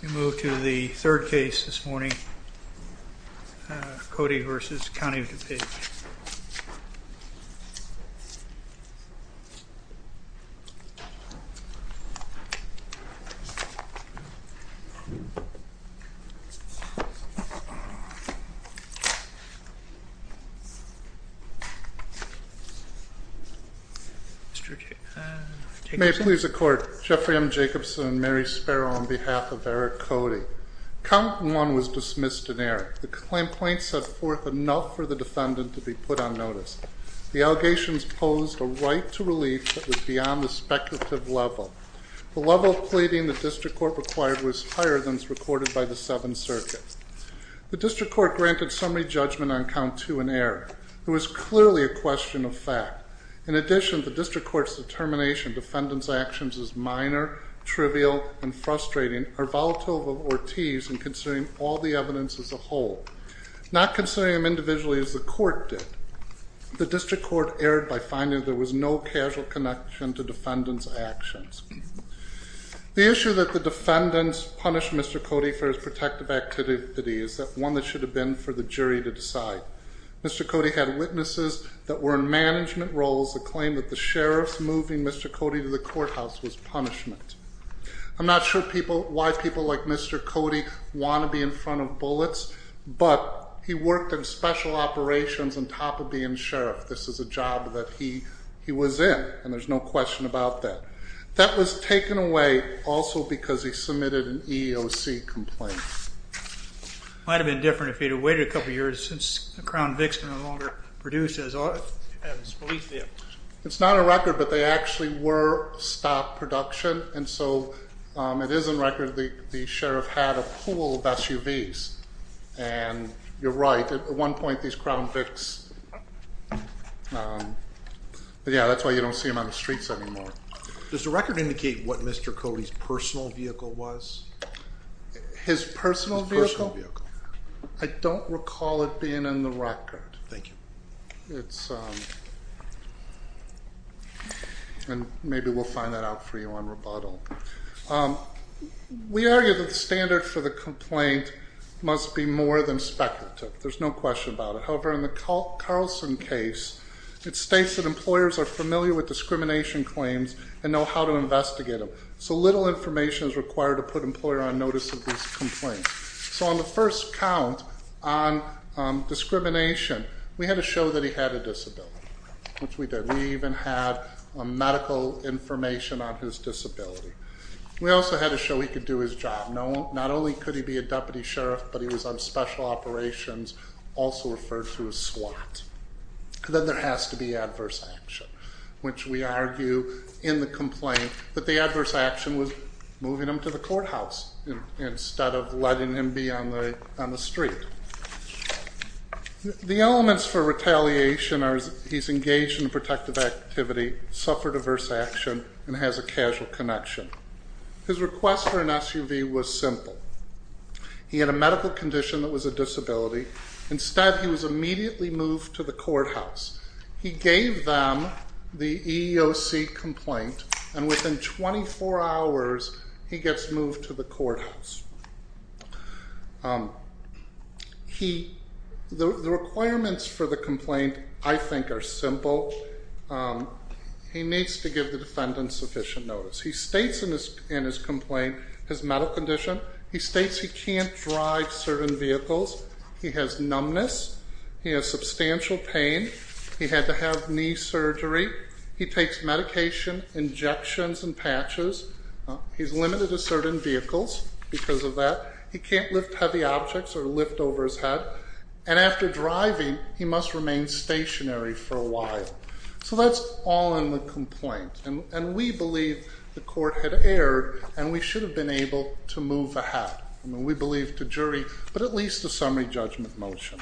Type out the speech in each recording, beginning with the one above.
We move to the third case this morning, Koty v. County of Dupage. May it please the Court, Jeffrey M. Jacobson and Mary Sparrow on behalf of Eric Koty. Count 1 was dismissed in error. The complaint set forth enough for the defendant to be put on notice. The allegations posed a right to relief that was beyond the speculative level. The level of pleading the District Court required was higher than is recorded by the Seventh Circuit. The District Court granted summary judgment on count 2 in error. It was clearly a question of fact. In addition, the District Court's determination defendants' actions as minor, trivial, and frustrating are volatile of Ortiz in considering all the evidence as a whole. Not considering them individually as the Court did, the District Court erred by finding there was no casual connection to defendants' actions. The issue that the defendants punished Mr. Koty for his protective activity is one that should have been for the jury to decide. Mr. Koty had witnesses that were in management roles that claimed that the sheriff's moving Mr. Koty to the courthouse was punishment. I'm not sure why people like Mr. Koty want to be in front of bullets, but he worked in special operations on top of being sheriff. This is a job that he was in, and there's no question about that. That was taken away also because he submitted an EEOC complaint. It might have been different if he had waited a couple of years since the Crown-Vix could no longer produce it. It's not a record, but they actually were stopped production, and so it is a record that the sheriff had a pool of SUVs. And you're right, at one point these Crown-Vix, yeah, that's why you don't see them on the streets anymore. Does the record indicate what Mr. Koty's personal vehicle was? His personal vehicle? His personal vehicle. I don't recall it being in the record. Thank you. And maybe we'll find that out for you on rebuttal. We argue that the standard for the complaint must be more than speculative. There's no question about it. However, in the Carlson case, it states that employers are familiar with discrimination claims and know how to investigate them, so little information is required to put an employer on notice of this complaint. So on the first count on discrimination, we had to show that he had a disability, which we did. We even had medical information on his disability. We also had to show he could do his job. Not only could he be a deputy sheriff, but he was on special operations, also referred to as SWAT. Then there has to be adverse action, which we argue in the complaint that the adverse action was moving him to the courthouse instead of letting him be on the street. The elements for retaliation are he's engaged in protective activity, suffered adverse action, and has a casual connection. His request for an SUV was simple. He had a medical condition that was a disability. Instead, he was immediately moved to the courthouse. He gave them the EEOC complaint, and within 24 hours, he gets moved to the courthouse. The requirements for the complaint, I think, are simple. He needs to give the defendant sufficient notice. He states in his complaint his medical condition. He states he can't drive certain vehicles. He has numbness. He has substantial pain. He had to have knee surgery. He takes medication, injections, and patches. He's limited to certain vehicles because of that. He can't lift heavy objects or lift over his head. And after driving, he must remain stationary for a while. So that's all in the complaint. And we believe the court had erred, and we should have been able to move ahead. We believe to jury, but at least a summary judgment motion.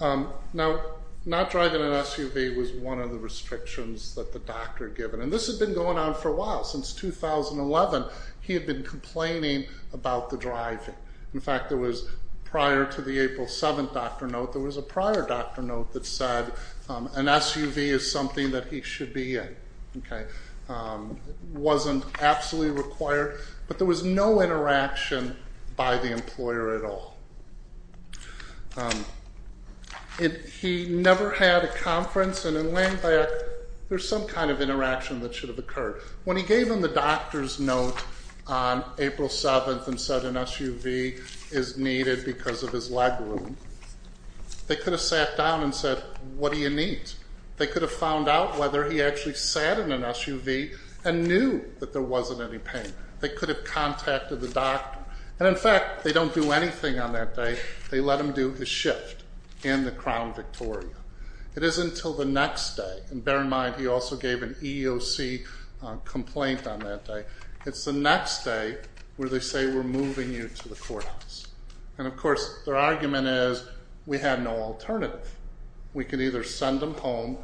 Now, not driving an SUV was one of the restrictions that the doctor had given. And this had been going on for a while. Since 2011, he had been complaining about the driving. In fact, there was, prior to the April 7th doctor note, there was a prior doctor note that said an SUV is something that he should be in. It wasn't absolutely required. But there was no interaction by the employer at all. He never had a conference, and in laying back, there's some kind of interaction that should have occurred. When he gave him the doctor's note on April 7th and said an SUV is needed because of his leg wound, they could have sat down and said, what do you need? They could have found out whether he actually sat in an SUV and knew that there wasn't any pain. They could have contacted the doctor. And in fact, they don't do anything on that day. They let him do his shift in the Crown Victoria. It isn't until the next day. And bear in mind, he also gave an EEOC complaint on that day. It's the next day where they say, we're moving you to the courthouse. And of course, their argument is, we have no alternative. We can either send him home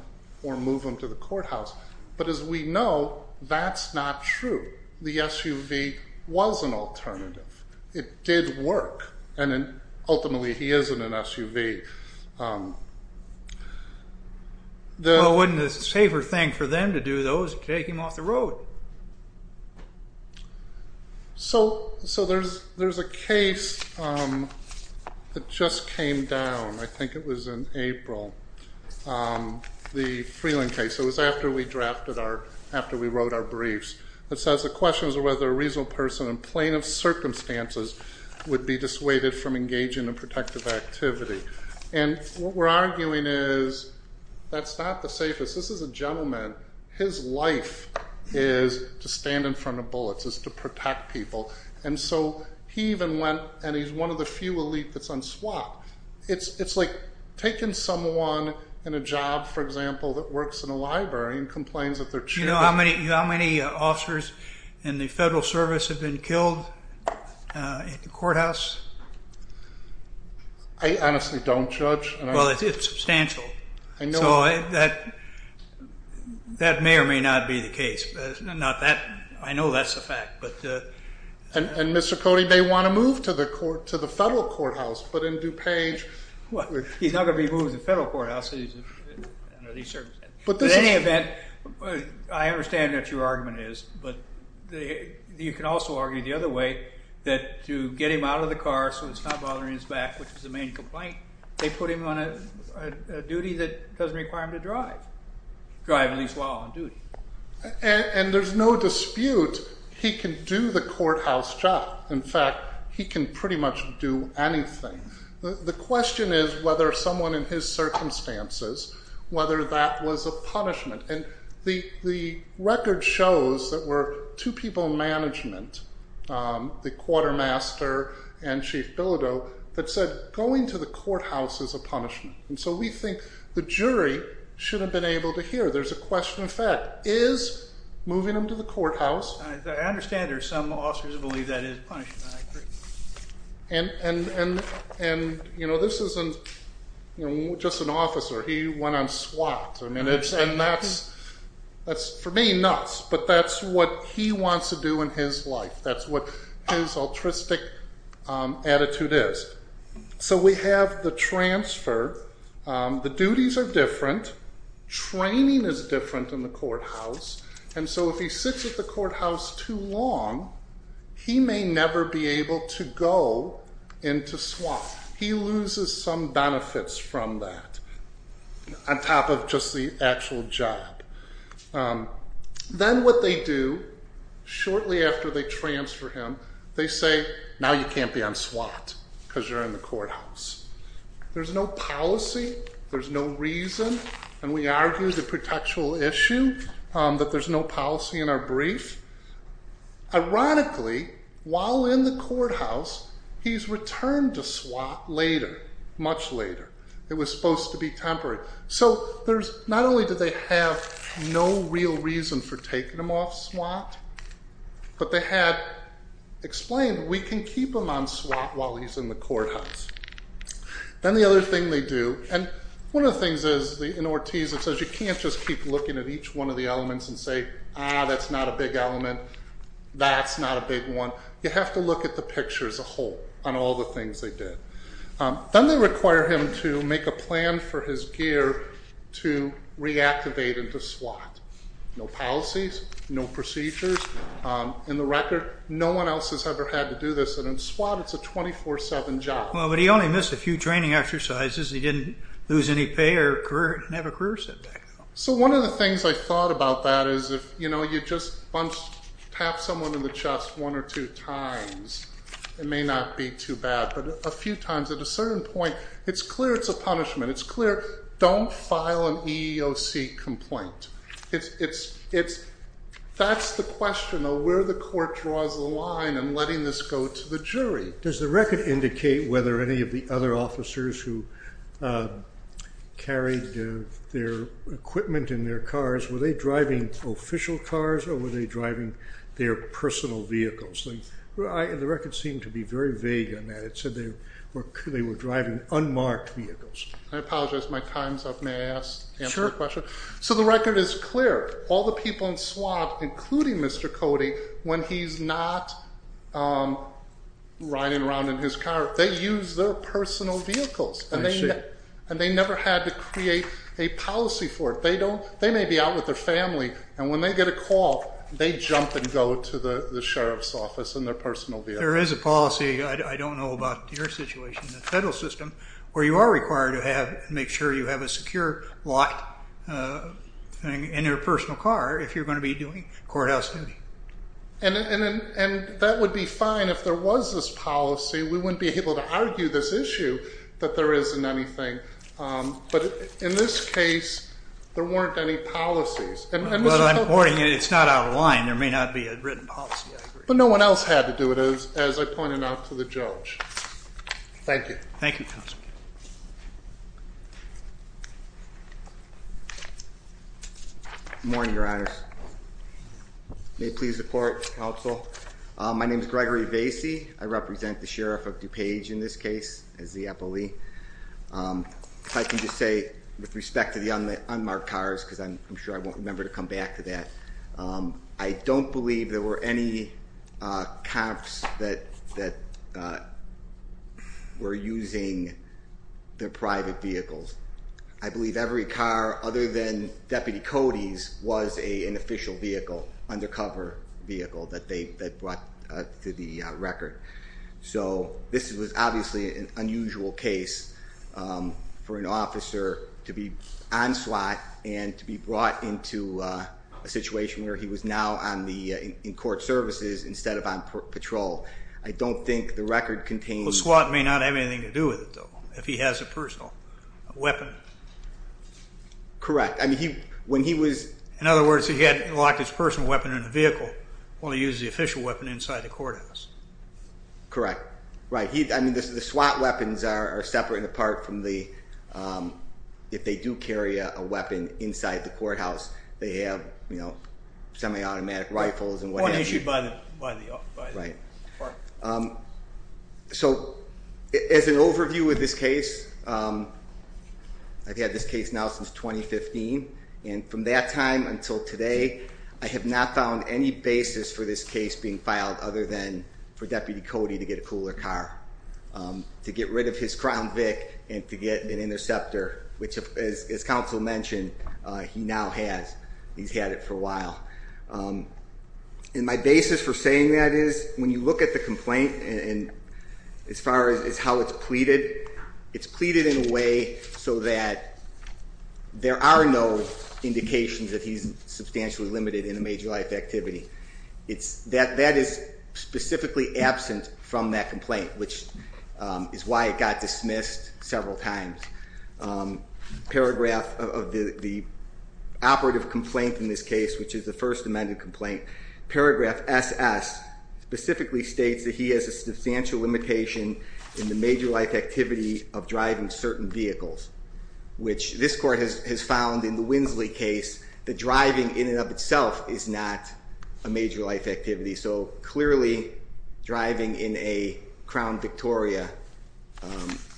or move him to the courthouse. But as we know, that's not true. The SUV was an alternative. It did work. And ultimately, he is in an SUV. Well, wouldn't it be a safer thing for them to do, though, is take him off the road? So there's a case that just came down. I think it was in April, the Freeland case. It was after we drafted our, after we wrote our briefs. It says the question was whether a reasonable person in plain of circumstances would be dissuaded from engaging in protective activity. And what we're arguing is that's not the safest. This is a gentleman. His life is to stand in front of bullets, is to protect people. And so he even went, and he's one of the few elite that's on SWAT. It's like taking someone in a job, for example, that works in a library and complains that they're cheated. You know how many officers in the federal service have been killed at the courthouse? I honestly don't, Judge. Well, it's substantial. So that may or may not be the case. Not that, I know that's a fact. And Mr. Cody may want to move to the federal courthouse, but in DuPage. He's not going to be moving to the federal courthouse. In any event, I understand what your argument is. But you can also argue the other way, that to get him out of the car so it's not bothering his back, which is the main complaint, they put him on a duty that doesn't require him to drive, drive at least while on duty. And there's no dispute he can do the courthouse job. In fact, he can pretty much do anything. The question is whether someone in his circumstances, whether that was a punishment. And the record shows that were two people in management, the quartermaster and Chief Bilodeau, that said going to the courthouse is a punishment. And so we think the jury should have been able to hear. There's a question of fact. Is moving him to the courthouse- I understand there's some officers who believe that is a punishment. I agree. And this isn't just an officer. He went on SWAT. And that's, for me, nuts. But that's what he wants to do in his life. That's what his altruistic attitude is. So we have the transfer. The duties are different. Training is different in the courthouse. And so if he sits at the courthouse too long, he may never be able to go into SWAT. He loses some benefits from that on top of just the actual job. Then what they do, shortly after they transfer him, they say, now you can't be on SWAT because you're in the courthouse. There's no policy. There's no reason. And we argue the protectual issue, that there's no policy in our brief. Ironically, while in the courthouse, he's returned to SWAT later, much later. It was supposed to be temporary. So not only did they have no real reason for taking him off SWAT, but they had explained, we can keep him on SWAT while he's in the courthouse. Then the other thing they do, and one of the things is, in Ortiz, it says you can't just keep looking at each one of the elements and say, ah, that's not a big element, that's not a big one. You have to look at the picture as a whole on all the things they did. Then they require him to make a plan for his gear to reactivate into SWAT. No policies, no procedures. In the record, no one else has ever had to do this, and in SWAT, it's a 24-7 job. Well, but he only missed a few training exercises. He didn't lose any pay or have a career setback. So one of the things I thought about that is if you just tap someone in the chest one or two times, it may not be too bad. But a few times, at a certain point, it's clear it's a punishment. It's clear, don't file an EEOC complaint. That's the question of where the court draws the line in letting this go to the jury. Does the record indicate whether any of the other officers who carried their equipment in their cars, were they driving official cars or were they driving their personal vehicles? The record seemed to be very vague on that. It said they were driving unmarked vehicles. I apologize. My time's up. May I answer the question? So the record is clear. All the people in SWAT, including Mr. Cody, when he's not riding around in his car, they use their personal vehicles. And they never had to create a policy for it. They may be out with their family, and when they get a call, they jump and go to the sheriff's office in their personal vehicle. There is a policy. I don't know about your situation. Where you are required to make sure you have a secure locked thing in your personal car if you're going to be doing courthouse duty. And that would be fine if there was this policy. We wouldn't be able to argue this issue that there isn't anything. But in this case, there weren't any policies. Well, I'm warning you, it's not out of line. There may not be a written policy. But no one else had to do it, as I pointed out to the judge. Thank you. Thank you, Counsel. Good morning, Your Honors. May it please the Court, Counsel. My name is Gregory Vasey. I represent the Sheriff of DuPage in this case as the epilee. If I can just say, with respect to the unmarked cars, because I'm sure I won't remember to come back to that. I don't believe there were any cops that were using their private vehicles. I believe every car other than Deputy Cody's was an official vehicle, undercover vehicle that they brought to the record. So this was obviously an unusual case for an officer to be on SWAT and to be brought into a situation where he was now in court services instead of on patrol. I don't think the record contains— Well, SWAT may not have anything to do with it, though, if he has a personal weapon. Correct. I mean, when he was— Correct. Right. I mean, the SWAT weapons are separate and apart from the—if they do carry a weapon inside the courthouse, they have, you know, semi-automatic rifles and what have you. Right. So as an overview of this case, I've had this case now since 2015. And from that time until today, I have not found any basis for this case being filed other than for Deputy Cody to get a cooler car, to get rid of his Crown Vic, and to get an interceptor, which, as counsel mentioned, he now has. He's had it for a while. And my basis for saying that is when you look at the complaint and as far as how it's pleaded, it's pleaded in a way so that there are no indications that he's substantially limited in a major life activity. That is specifically absent from that complaint, which is why it got dismissed several times. Paragraph of the operative complaint in this case, which is the first amended complaint, paragraph SS, specifically states that he has a substantial limitation in the major life activity of driving certain vehicles, which this court has found in the Winsley case that driving in and of itself is not a major life activity. So clearly driving in a Crown Victoria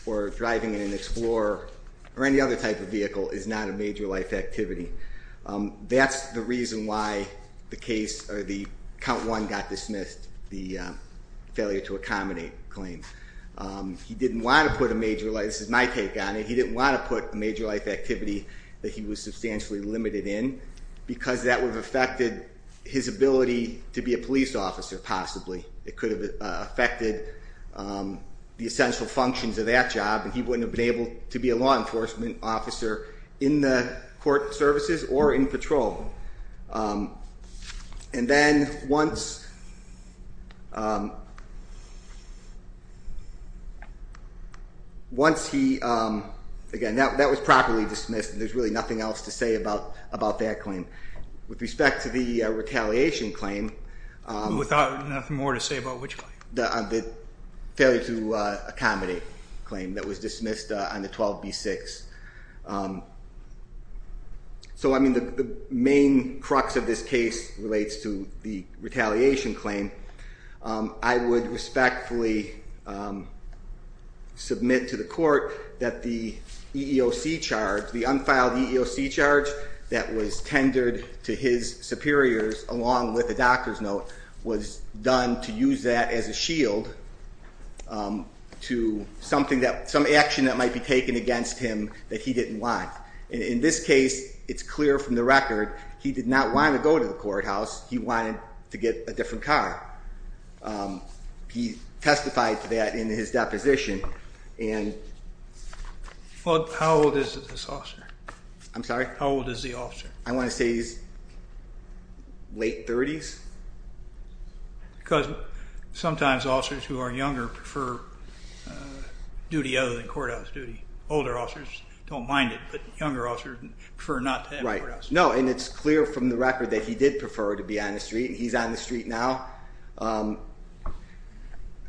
or driving in an Explorer or any other type of vehicle is not a major life activity. That's the reason why the case or the count one got dismissed, the failure to accommodate claim. He didn't want to put a major life, this is my take on it, he didn't want to put a major life activity that he was substantially limited in. Because that would have affected his ability to be a police officer. Possibly it could have affected the essential functions of that job, and he wouldn't have been able to be a law enforcement officer in the court services or in patrol. And then once he, again, that was properly dismissed, there's really nothing else to say about that claim. With respect to the retaliation claim. Without nothing more to say about which claim? The failure to accommodate claim that was dismissed on the 12B6. So, I mean, the main crux of this case relates to the retaliation claim. I would respectfully submit to the court that the EEOC charge, the unfiled EEOC charge that was tendered to his superiors along with a doctor's note, was done to use that as a shield to some action that might be taken against him that he didn't want. In this case, it's clear from the record, he did not want to go to the courthouse, he wanted to get a different car. He testified to that in his deposition. How old is this officer? How old is the officer? I want to say he's late 30s. Because sometimes officers who are younger prefer duty other than courthouse duty. Older officers don't mind it, but younger officers prefer not to have courthouses. Right. No, and it's clear from the record that he did prefer to be on the street. He's on the street now.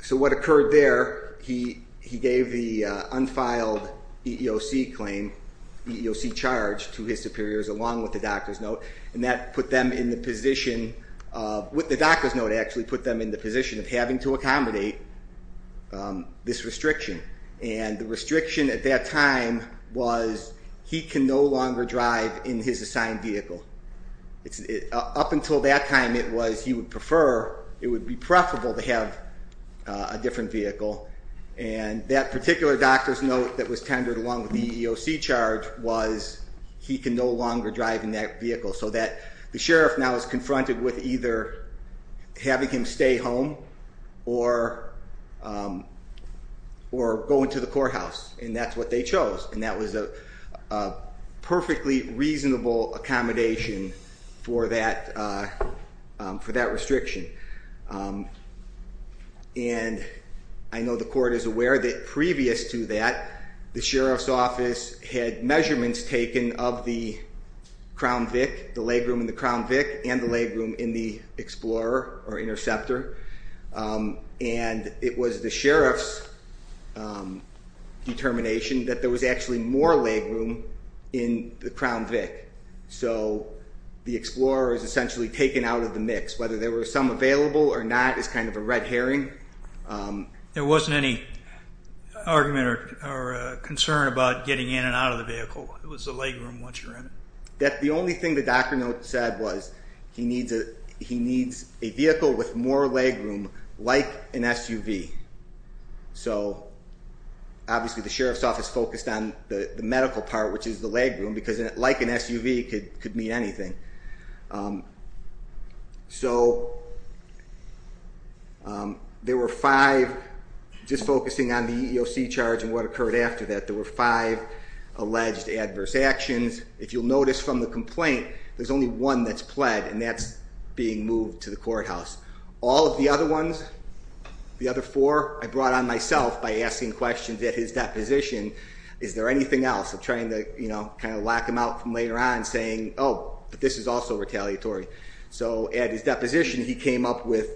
So what occurred there, he gave the unfiled EEOC claim, EEOC charge to his superiors along with the doctor's note. And that put them in the position, with the doctor's note actually put them in the position of having to accommodate this restriction. And the restriction at that time was he can no longer drive in his assigned vehicle. Up until that time, it was he would prefer, it would be preferable to have a different vehicle. And that particular doctor's note that was tendered along with the EEOC charge was he can no longer drive in that vehicle. So that the sheriff now is confronted with either having him stay home or going to the courthouse, and that's what they chose. And that was a perfectly reasonable accommodation for that restriction. And I know the court is aware that previous to that, the sheriff's office had measurements taken of the Crown Vic, the leg room in the Crown Vic and the leg room in the Explorer or Interceptor. And it was the sheriff's determination that there was actually more leg room in the Crown Vic. So the Explorer is essentially taken out of the mix. Whether there were some available or not is kind of a red herring. There wasn't any argument or concern about getting in and out of the vehicle. It was the leg room once you're in it. The only thing the doctor note said was he needs a vehicle with more leg room like an SUV. So obviously the sheriff's office focused on the medical part, which is the leg room, because like an SUV it could mean anything. So there were five, just focusing on the EEOC charge and what occurred after that, there were five alleged adverse actions. If you'll notice from the complaint, there's only one that's pled and that's being moved to the courthouse. All of the other ones, the other four, I brought on myself by asking questions at his deposition. Is there anything else? I'm trying to kind of lock him out from later on saying, oh, but this is also retaliatory. So at his deposition, he came up with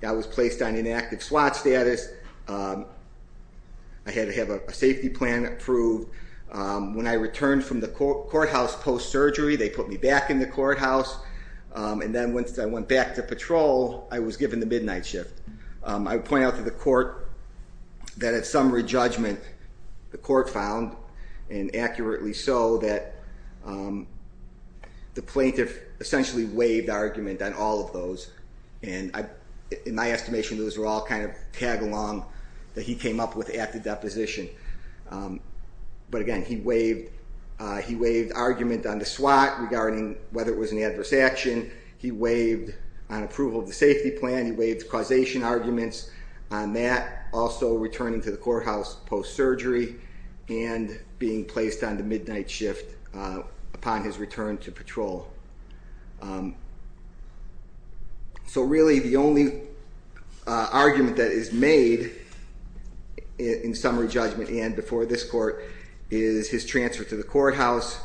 that was placed on inactive SWAT status. I had to have a safety plan approved. When I returned from the courthouse post-surgery, they put me back in the courthouse. And then once I went back to patrol, I was given the midnight shift. I point out to the court that at summary judgment, the court found, and accurately so, that the plaintiff essentially waived argument on all of those. And in my estimation, those were all kind of tag along that he came up with at the deposition. But again, he waived argument on the SWAT regarding whether it was an adverse action. He waived on approval of the safety plan. He waived causation arguments on that. Also returning to the courthouse post-surgery and being placed on the midnight shift upon his return to patrol. So really, the only argument that is made in summary judgment and before this court is his transfer to the courthouse.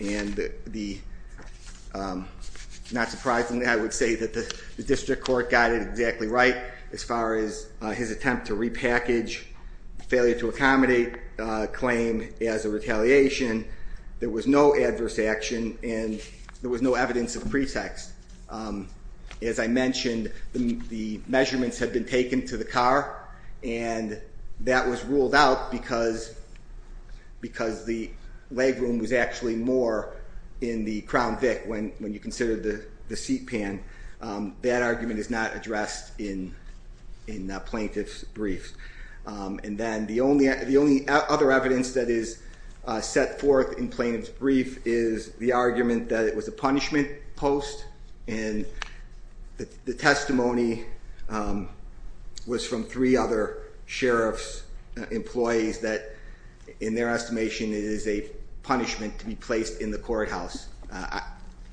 And not surprisingly, I would say that the district court got it exactly right as far as his attempt to repackage failure to accommodate claim as a retaliation. There was no adverse action, and there was no evidence of pretext. As I mentioned, the measurements had been taken to the car, and that was ruled out because the leg room was actually more in the crown vic when you consider the seat pan. That argument is not addressed in the plaintiff's brief. And then the only other evidence that is set forth in plaintiff's brief is the argument that it was a punishment post. And the testimony was from three other sheriff's employees that in their estimation, it is a punishment to be placed in the courthouse.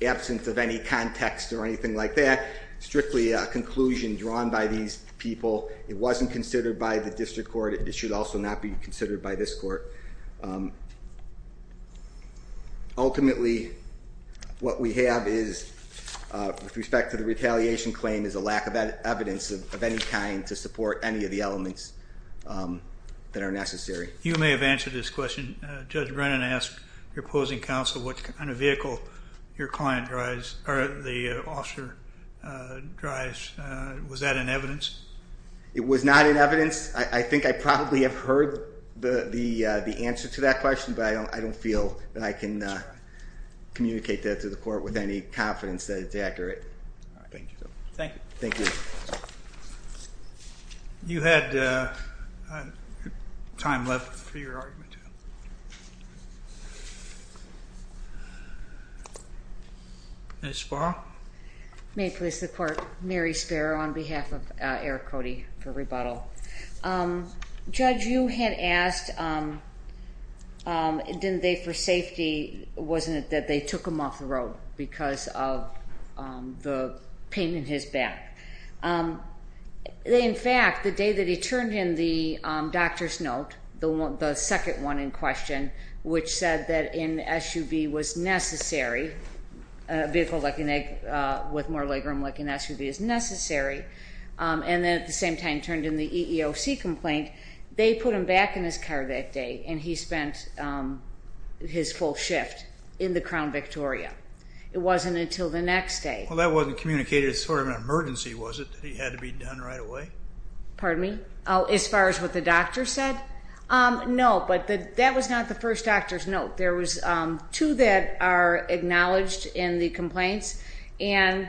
Absence of any context or anything like that, strictly a conclusion drawn by these people. It wasn't considered by the district court. It should also not be considered by this court. Ultimately, what we have is with respect to the retaliation claim is a lack of evidence of any kind to support any of the elements that are necessary. You may have answered this question. Judge Brennan asked your opposing counsel what kind of vehicle your client drives or the officer drives. Was that in evidence? It was not in evidence. I think I probably have heard the answer to that question, but I don't feel that I can communicate that to the court with any confidence that it's accurate. All right. Thank you. Thank you. You had time left for your argument. Ms. Sparrow? May it please the court. Mary Sparrow on behalf of Eric Cody for rebuttal. Judge, you had asked, didn't they, for safety, wasn't it that they took him off the road because of the pain in his back? In fact, the day that he turned in the doctor's note, the second one in question, which said that an SUV was necessary, a vehicle with more legroom like an SUV is necessary, and then at the same time turned in the EEOC complaint, they put him back in his car that day and he spent his full shift in the Crown Victoria. It wasn't until the next day. Well, that wasn't communicated as sort of an emergency, was it, that he had to be done right away? Pardon me? As far as what the doctor said? No, but that was not the first doctor's note. There was two that are acknowledged in the complaints, and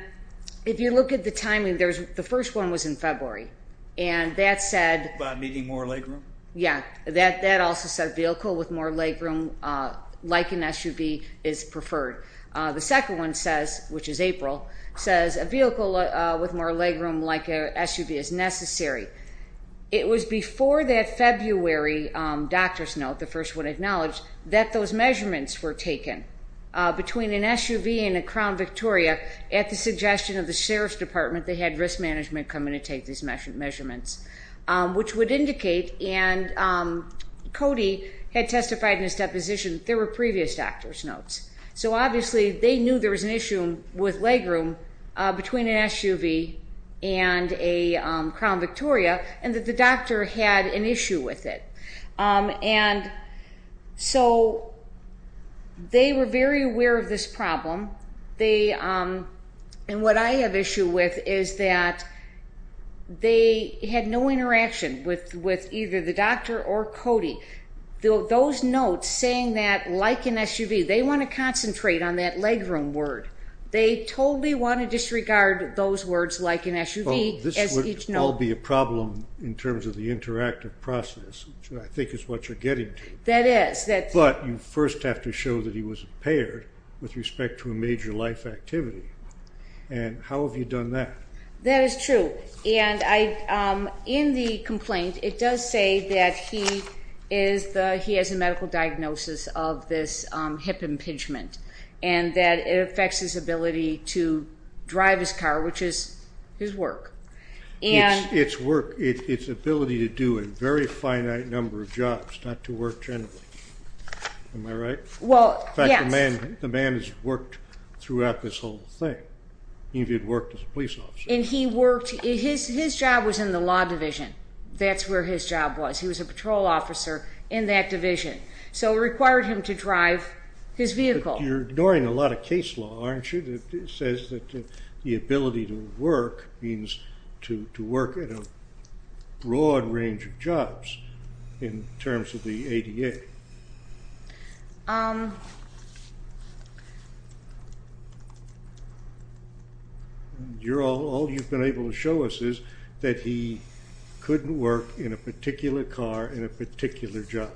if you look at the timing, the first one was in February, and that said. Meeting more legroom? Yeah, that also said a vehicle with more legroom like an SUV is preferred. The second one says, which is April, says a vehicle with more legroom like an SUV is necessary. It was before that February doctor's note, the first one acknowledged, that those measurements were taken between an SUV and a Crown Victoria at the suggestion of the Sheriff's Department. They had risk management come in and take these measurements, which would indicate, and Cody had testified in his deposition, there were previous doctor's notes. So obviously they knew there was an issue with legroom between an SUV and a Crown Victoria, and that the doctor had an issue with it. And so they were very aware of this problem. And what I have issue with is that they had no interaction with either the doctor or Cody. Those notes saying that like an SUV, they want to concentrate on that legroom word. They totally want to disregard those words like an SUV as each note. This would all be a problem in terms of the interactive process, which I think is what you're getting to. That is. But you first have to show that he was impaired with respect to a major life activity. And how have you done that? That is true. And in the complaint, it does say that he has a medical diagnosis of this hip impingement and that it affects his ability to drive his car, which is his work. It's work. It's ability to do a very finite number of jobs, not to work generally. Am I right? Well, yes. In fact, the man has worked throughout this whole thing. He did work as a police officer. His job was in the law division. That's where his job was. He was a patrol officer in that division. So it required him to drive his vehicle. You're ignoring a lot of case law, aren't you? It says that the ability to work means to work in a broad range of jobs in terms of the ADA. All you've been able to show us is that he couldn't work in a particular car in a particular job.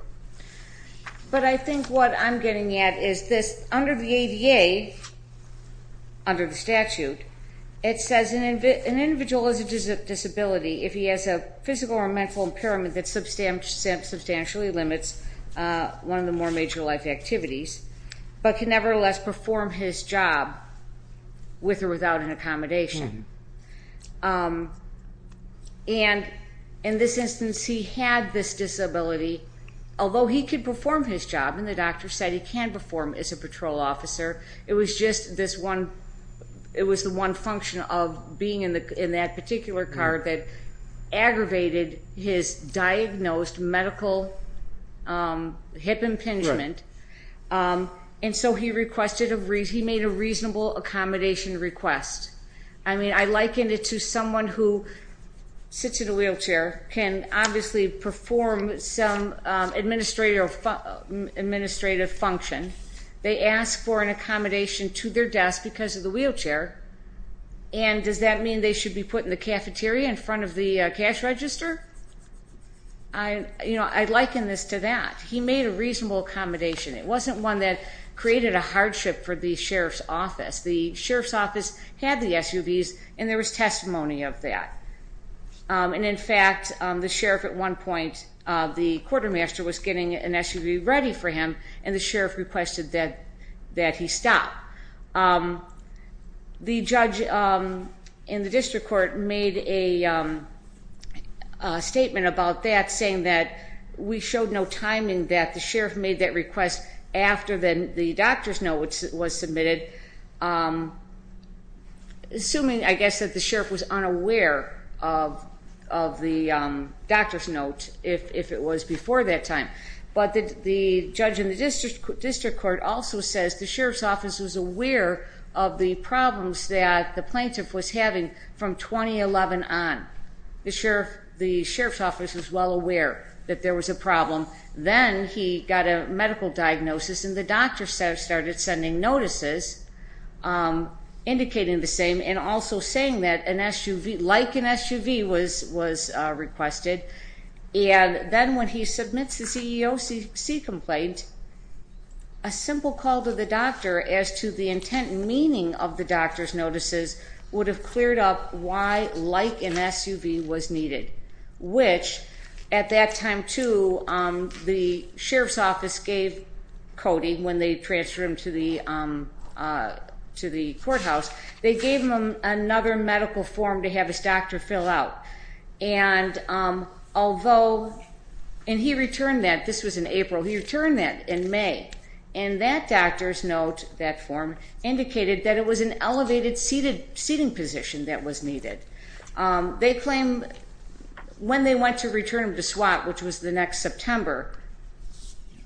But I think what I'm getting at is this. Under the ADA, under the statute, it says an individual has a disability. If he has a physical or mental impairment that substantially limits one of the more major life activities, but can nevertheless perform his job with or without an accommodation. And in this instance, he had this disability. Although he could perform his job, and the doctor said he can perform as a patrol officer, it was the one function of being in that particular car that aggravated his diagnosed medical hip impingement. And so he made a reasonable accommodation request. I mean, I liken it to someone who sits in a wheelchair, can obviously perform some administrative function. They ask for an accommodation to their desk because of the wheelchair. And does that mean they should be put in the cafeteria in front of the cash register? I liken this to that. He made a reasonable accommodation. It wasn't one that created a hardship for the sheriff's office. The sheriff's office had the SUVs, and there was testimony of that. And in fact, the sheriff at one point, the quartermaster was getting an SUV ready for him, and the sheriff requested that he stop. The judge in the district court made a statement about that, saying that we showed no timing that the sheriff made that request after the doctor's note was submitted, assuming, I guess, that the sheriff was unaware of the doctor's note, if it was before that time. But the judge in the district court also says the sheriff's office was aware of the problems that the plaintiff was having from 2011 on. The sheriff's office was well aware that there was a problem. Then he got a medical diagnosis, and the doctor started sending notices indicating the same and also saying that an SUV, like an SUV, was requested. And then when he submits his EEOC complaint, a simple call to the doctor as to the intent and meaning of the doctor's notices would have cleared up why, like an SUV, was needed, which at that time, too, the sheriff's office gave Cody, when they transferred him to the courthouse, they gave him another medical form to have his doctor fill out. And although, and he returned that, this was in April, he returned that in May, and that doctor's note, that form, indicated that it was an elevated seating position that was needed. They claim when they went to return him to SWAT, which was the next September,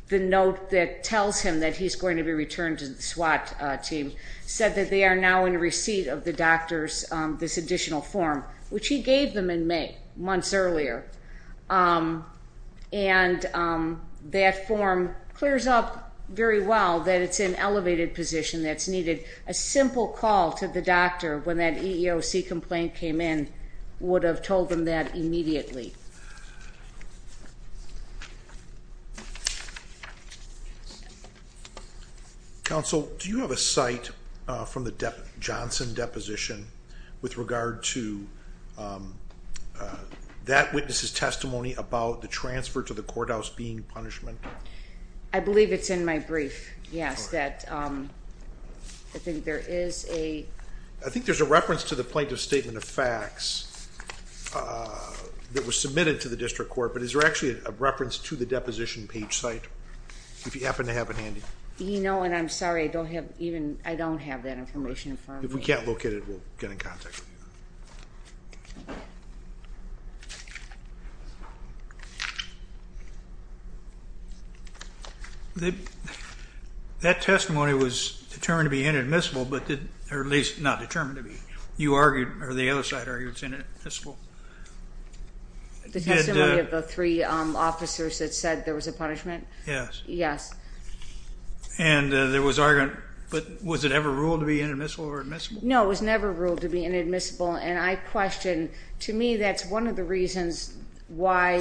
the note that tells him that he's going to be returned to the SWAT team said that they are now in receipt of the doctor's, this additional form, which he gave them in May, months earlier. And that form clears up very well that it's an elevated position that's needed. A simple call to the doctor when that EEOC complaint came in would have told them that immediately. Thank you. Counsel, do you have a cite from the Johnson deposition with regard to that witness's testimony about the transfer to the courthouse being punishment? I believe it's in my brief, yes, that I think there is a... ...that was submitted to the district court, but is there actually a reference to the deposition page cite, if you happen to have it handy? You know, and I'm sorry, I don't have that information in front of me. If we can't locate it, we'll get in contact with you. That testimony was determined to be inadmissible, or at least not determined to be. You argued, or the other side argued, it's inadmissible. The testimony of the three officers that said there was a punishment? Yes. Yes. And there was argument, but was it ever ruled to be inadmissible or admissible? No, it was never ruled to be inadmissible. And I question, to me, that's one of the reasons why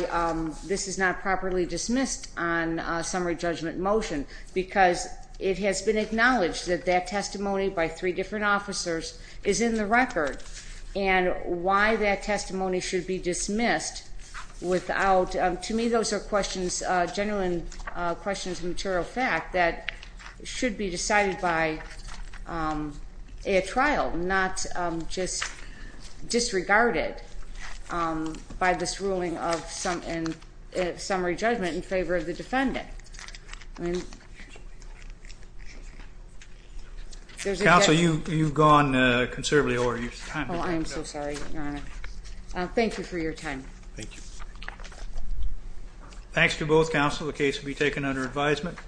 this is not properly dismissed on summary judgment motion, because it has been acknowledged that that testimony by three different officers is in the record, and why that testimony should be dismissed without, to me, those are questions, genuine questions of material fact that should be decided by a trial, not just disregarded by this ruling of summary judgment in favor of the defendant. Counsel, you've gone considerably over your time. Oh, I am so sorry, Your Honor. Thank you for your time. Thank you. Thanks to both counsel. The case will be taken under advisement.